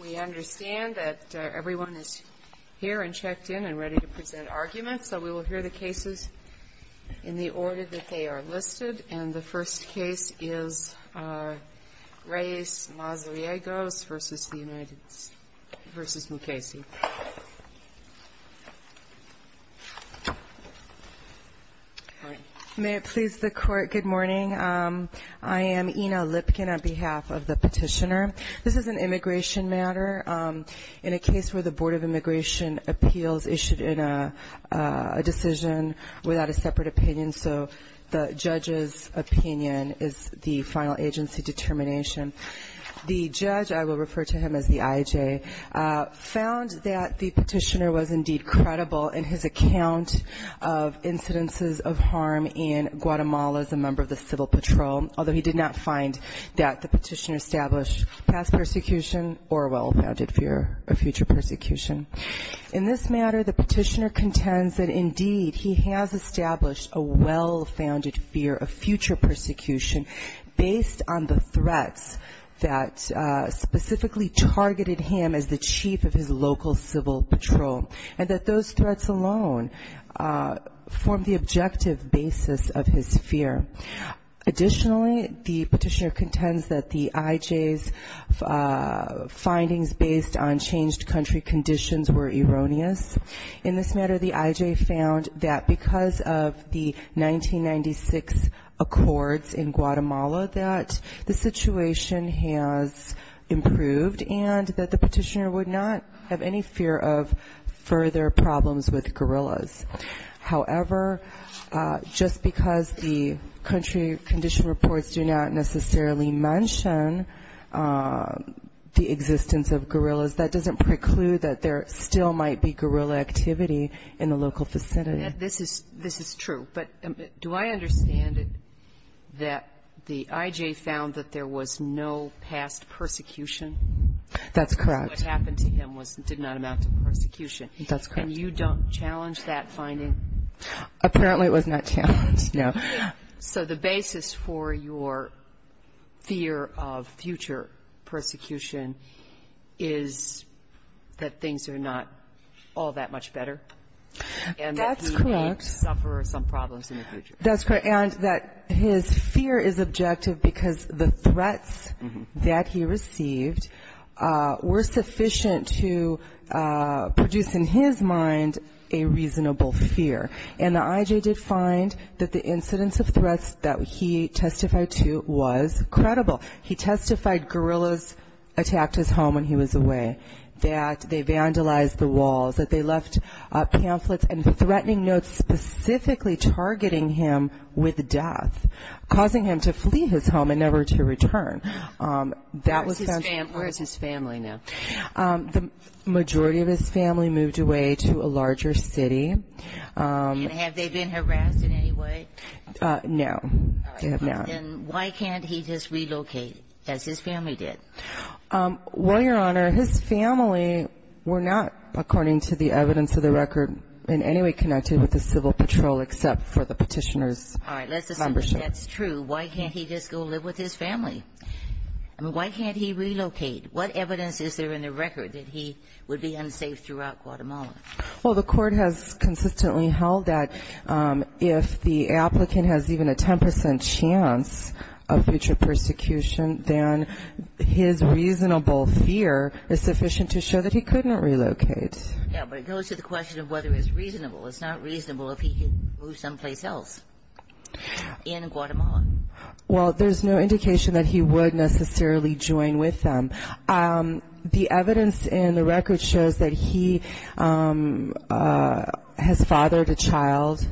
We understand that everyone is here and checked in and ready to present arguments. So we will hear the cases in the order that they are listed. And the first case is Reyes-Mazariegos v. Mukasey. May it please the Court, good morning. I am Ina Lipkin on behalf of the petitioner. This is an immigration matter in a case where the Board of Immigration Appeals issued a decision without a separate opinion, so the judge's opinion is the final agency determination. The judge, I will refer to him as the IJ, found that the petitioner was indeed credible in his account of incidences of harm in Guatemala as a member of the civil patrol, although he did not find that the petitioner established past persecution or a well-founded fear of future persecution. In this matter, the petitioner contends that indeed he has established a well-founded fear of future persecution based on the threats that specifically targeted him as the chief of his local civil patrol and that those threats alone form the objective basis of his fear. Additionally, the petitioner contends that the IJ's findings based on changed country conditions were erroneous. In this matter, the IJ found that because of the 1996 accords in Guatemala, that the situation has improved and that the petitioner would not have any fear of further problems with guerrillas. However, just because the country condition reports do not necessarily mention the existence of guerrillas, that doesn't preclude that there still might be guerrilla activity in the local vicinity. This is true. But do I understand that the IJ found that there was no past persecution? That's correct. What happened to him did not amount to persecution. That's correct. And you don't challenge that finding? Apparently, it was not challenged, no. So the basis for your fear of future persecution is that things are not all that much better? That's correct. And that he might suffer some problems in the future. That's correct. And that his fear is objective because the threats that he received were sufficient to produce in his mind a reasonable fear. And the IJ did find that the incidence of threats that he testified to was credible. He testified guerrillas attacked his home when he was away, that they vandalized the walls, that they left pamphlets and threatening notes specifically targeting him with death, causing him to flee his home and never to return. Where is his family now? The majority of his family moved away to a larger city. And have they been harassed in any way? No. They have not. Then why can't he just relocate as his family did? Well, Your Honor, his family were not, according to the evidence of the record, in any way connected with the civil patrol except for the petitioner's membership. All right. Let's assume that that's true. Why can't he just go live with his family? I mean, why can't he relocate? What evidence is there in the record that he would be unsafe throughout Guatemala? Well, the Court has consistently held that if the applicant has even a 10 percent chance of future persecution, then his reasonable fear is sufficient to show that he couldn't relocate. Yeah, but it goes to the question of whether it's reasonable. It's not reasonable if he could move someplace else in Guatemala. Well, there's no indication that he would necessarily join with them. The evidence in the record shows that he has fathered a child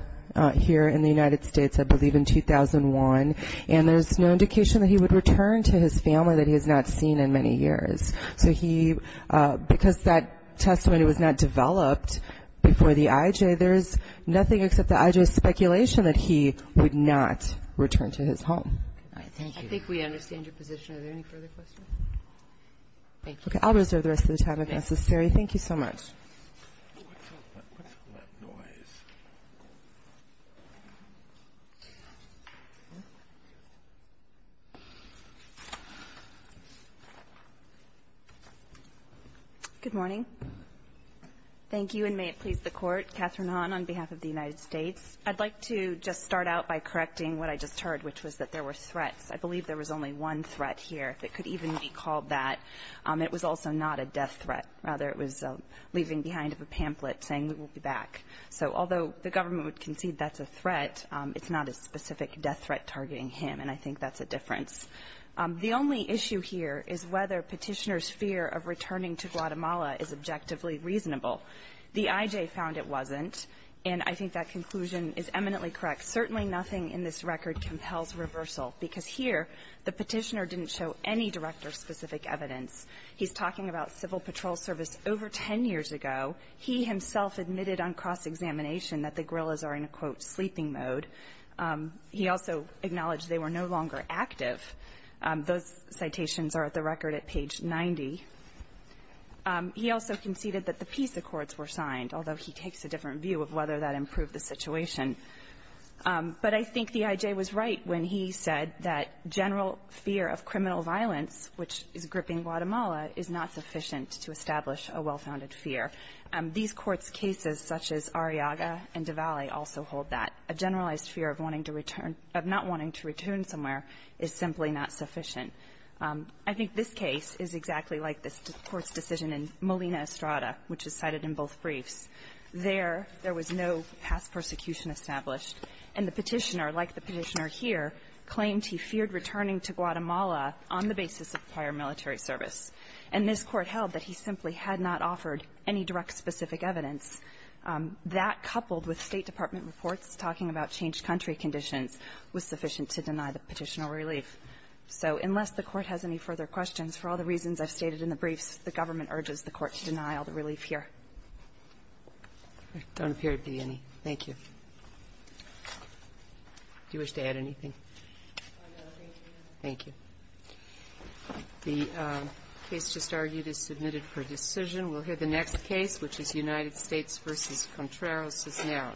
here in the United States, I believe, in 2001. And there's no indication that he would return to his family that he has not seen in many years. So he, because that testimony was not developed before the IJ, there's nothing except the IJ's speculation that he would not return to his home. Thank you. I think we understand your position. Are there any further questions? Okay. I'll reserve the rest of the time if necessary. Thank you so much. Good morning. Thank you, and may it please the Court. Catherine Hahn on behalf of the United States. I'd like to just start out by correcting what I just heard, which was that there were threats. I believe there was only one threat here that could even be called that. It was also not a death threat. Rather, it was leaving behind a pamphlet saying we will be back. So although the government would concede that's a threat, it's not a specific death threat targeting him, and I think that's a difference. The only issue here is whether Petitioner's fear of returning to Guatemala is objectively reasonable. The IJ found it wasn't, and I think that conclusion is eminently correct. Certainly nothing in this record compels reversal, because here the Petitioner didn't show any director-specific evidence. He's talking about Civil Patrol Service over 10 years ago. He himself admitted on cross-examination that the guerrillas are in a, quote, sleeping mode. He also acknowledged they were no longer active. Those citations are at the record at page 90. He also conceded that the peace accords were signed, although he takes a different view of whether that improved the situation. But I think the IJ was right when he said that general fear of criminal violence, which is gripping Guatemala, is not sufficient to establish a well-founded fear. These Courts' cases, such as Arriaga and DiValle, also hold that. A generalized fear of wanting to return to or not wanting to return somewhere is simply not sufficient. I think this case is exactly like this Court's decision in Molina Estrada, which is cited in both briefs. There, there was no past persecution established. And the Petitioner, like the Petitioner here, claimed he feared returning to Guatemala on the basis of prior military service. And this Court held that he simply had not offered any direct specific evidence. That, coupled with State Department reports talking about changed country conditions, was sufficient to deny the Petitioner relief. So unless the Court has any further questions, for all the reasons I've stated in the briefs, the government urges the Court to deny all the relief here. Don't appear to be any. Thank you. Do you wish to add anything? Thank you. The case just argued is submitted for decision. We'll hear the next case, which is United States v. Contreras, now.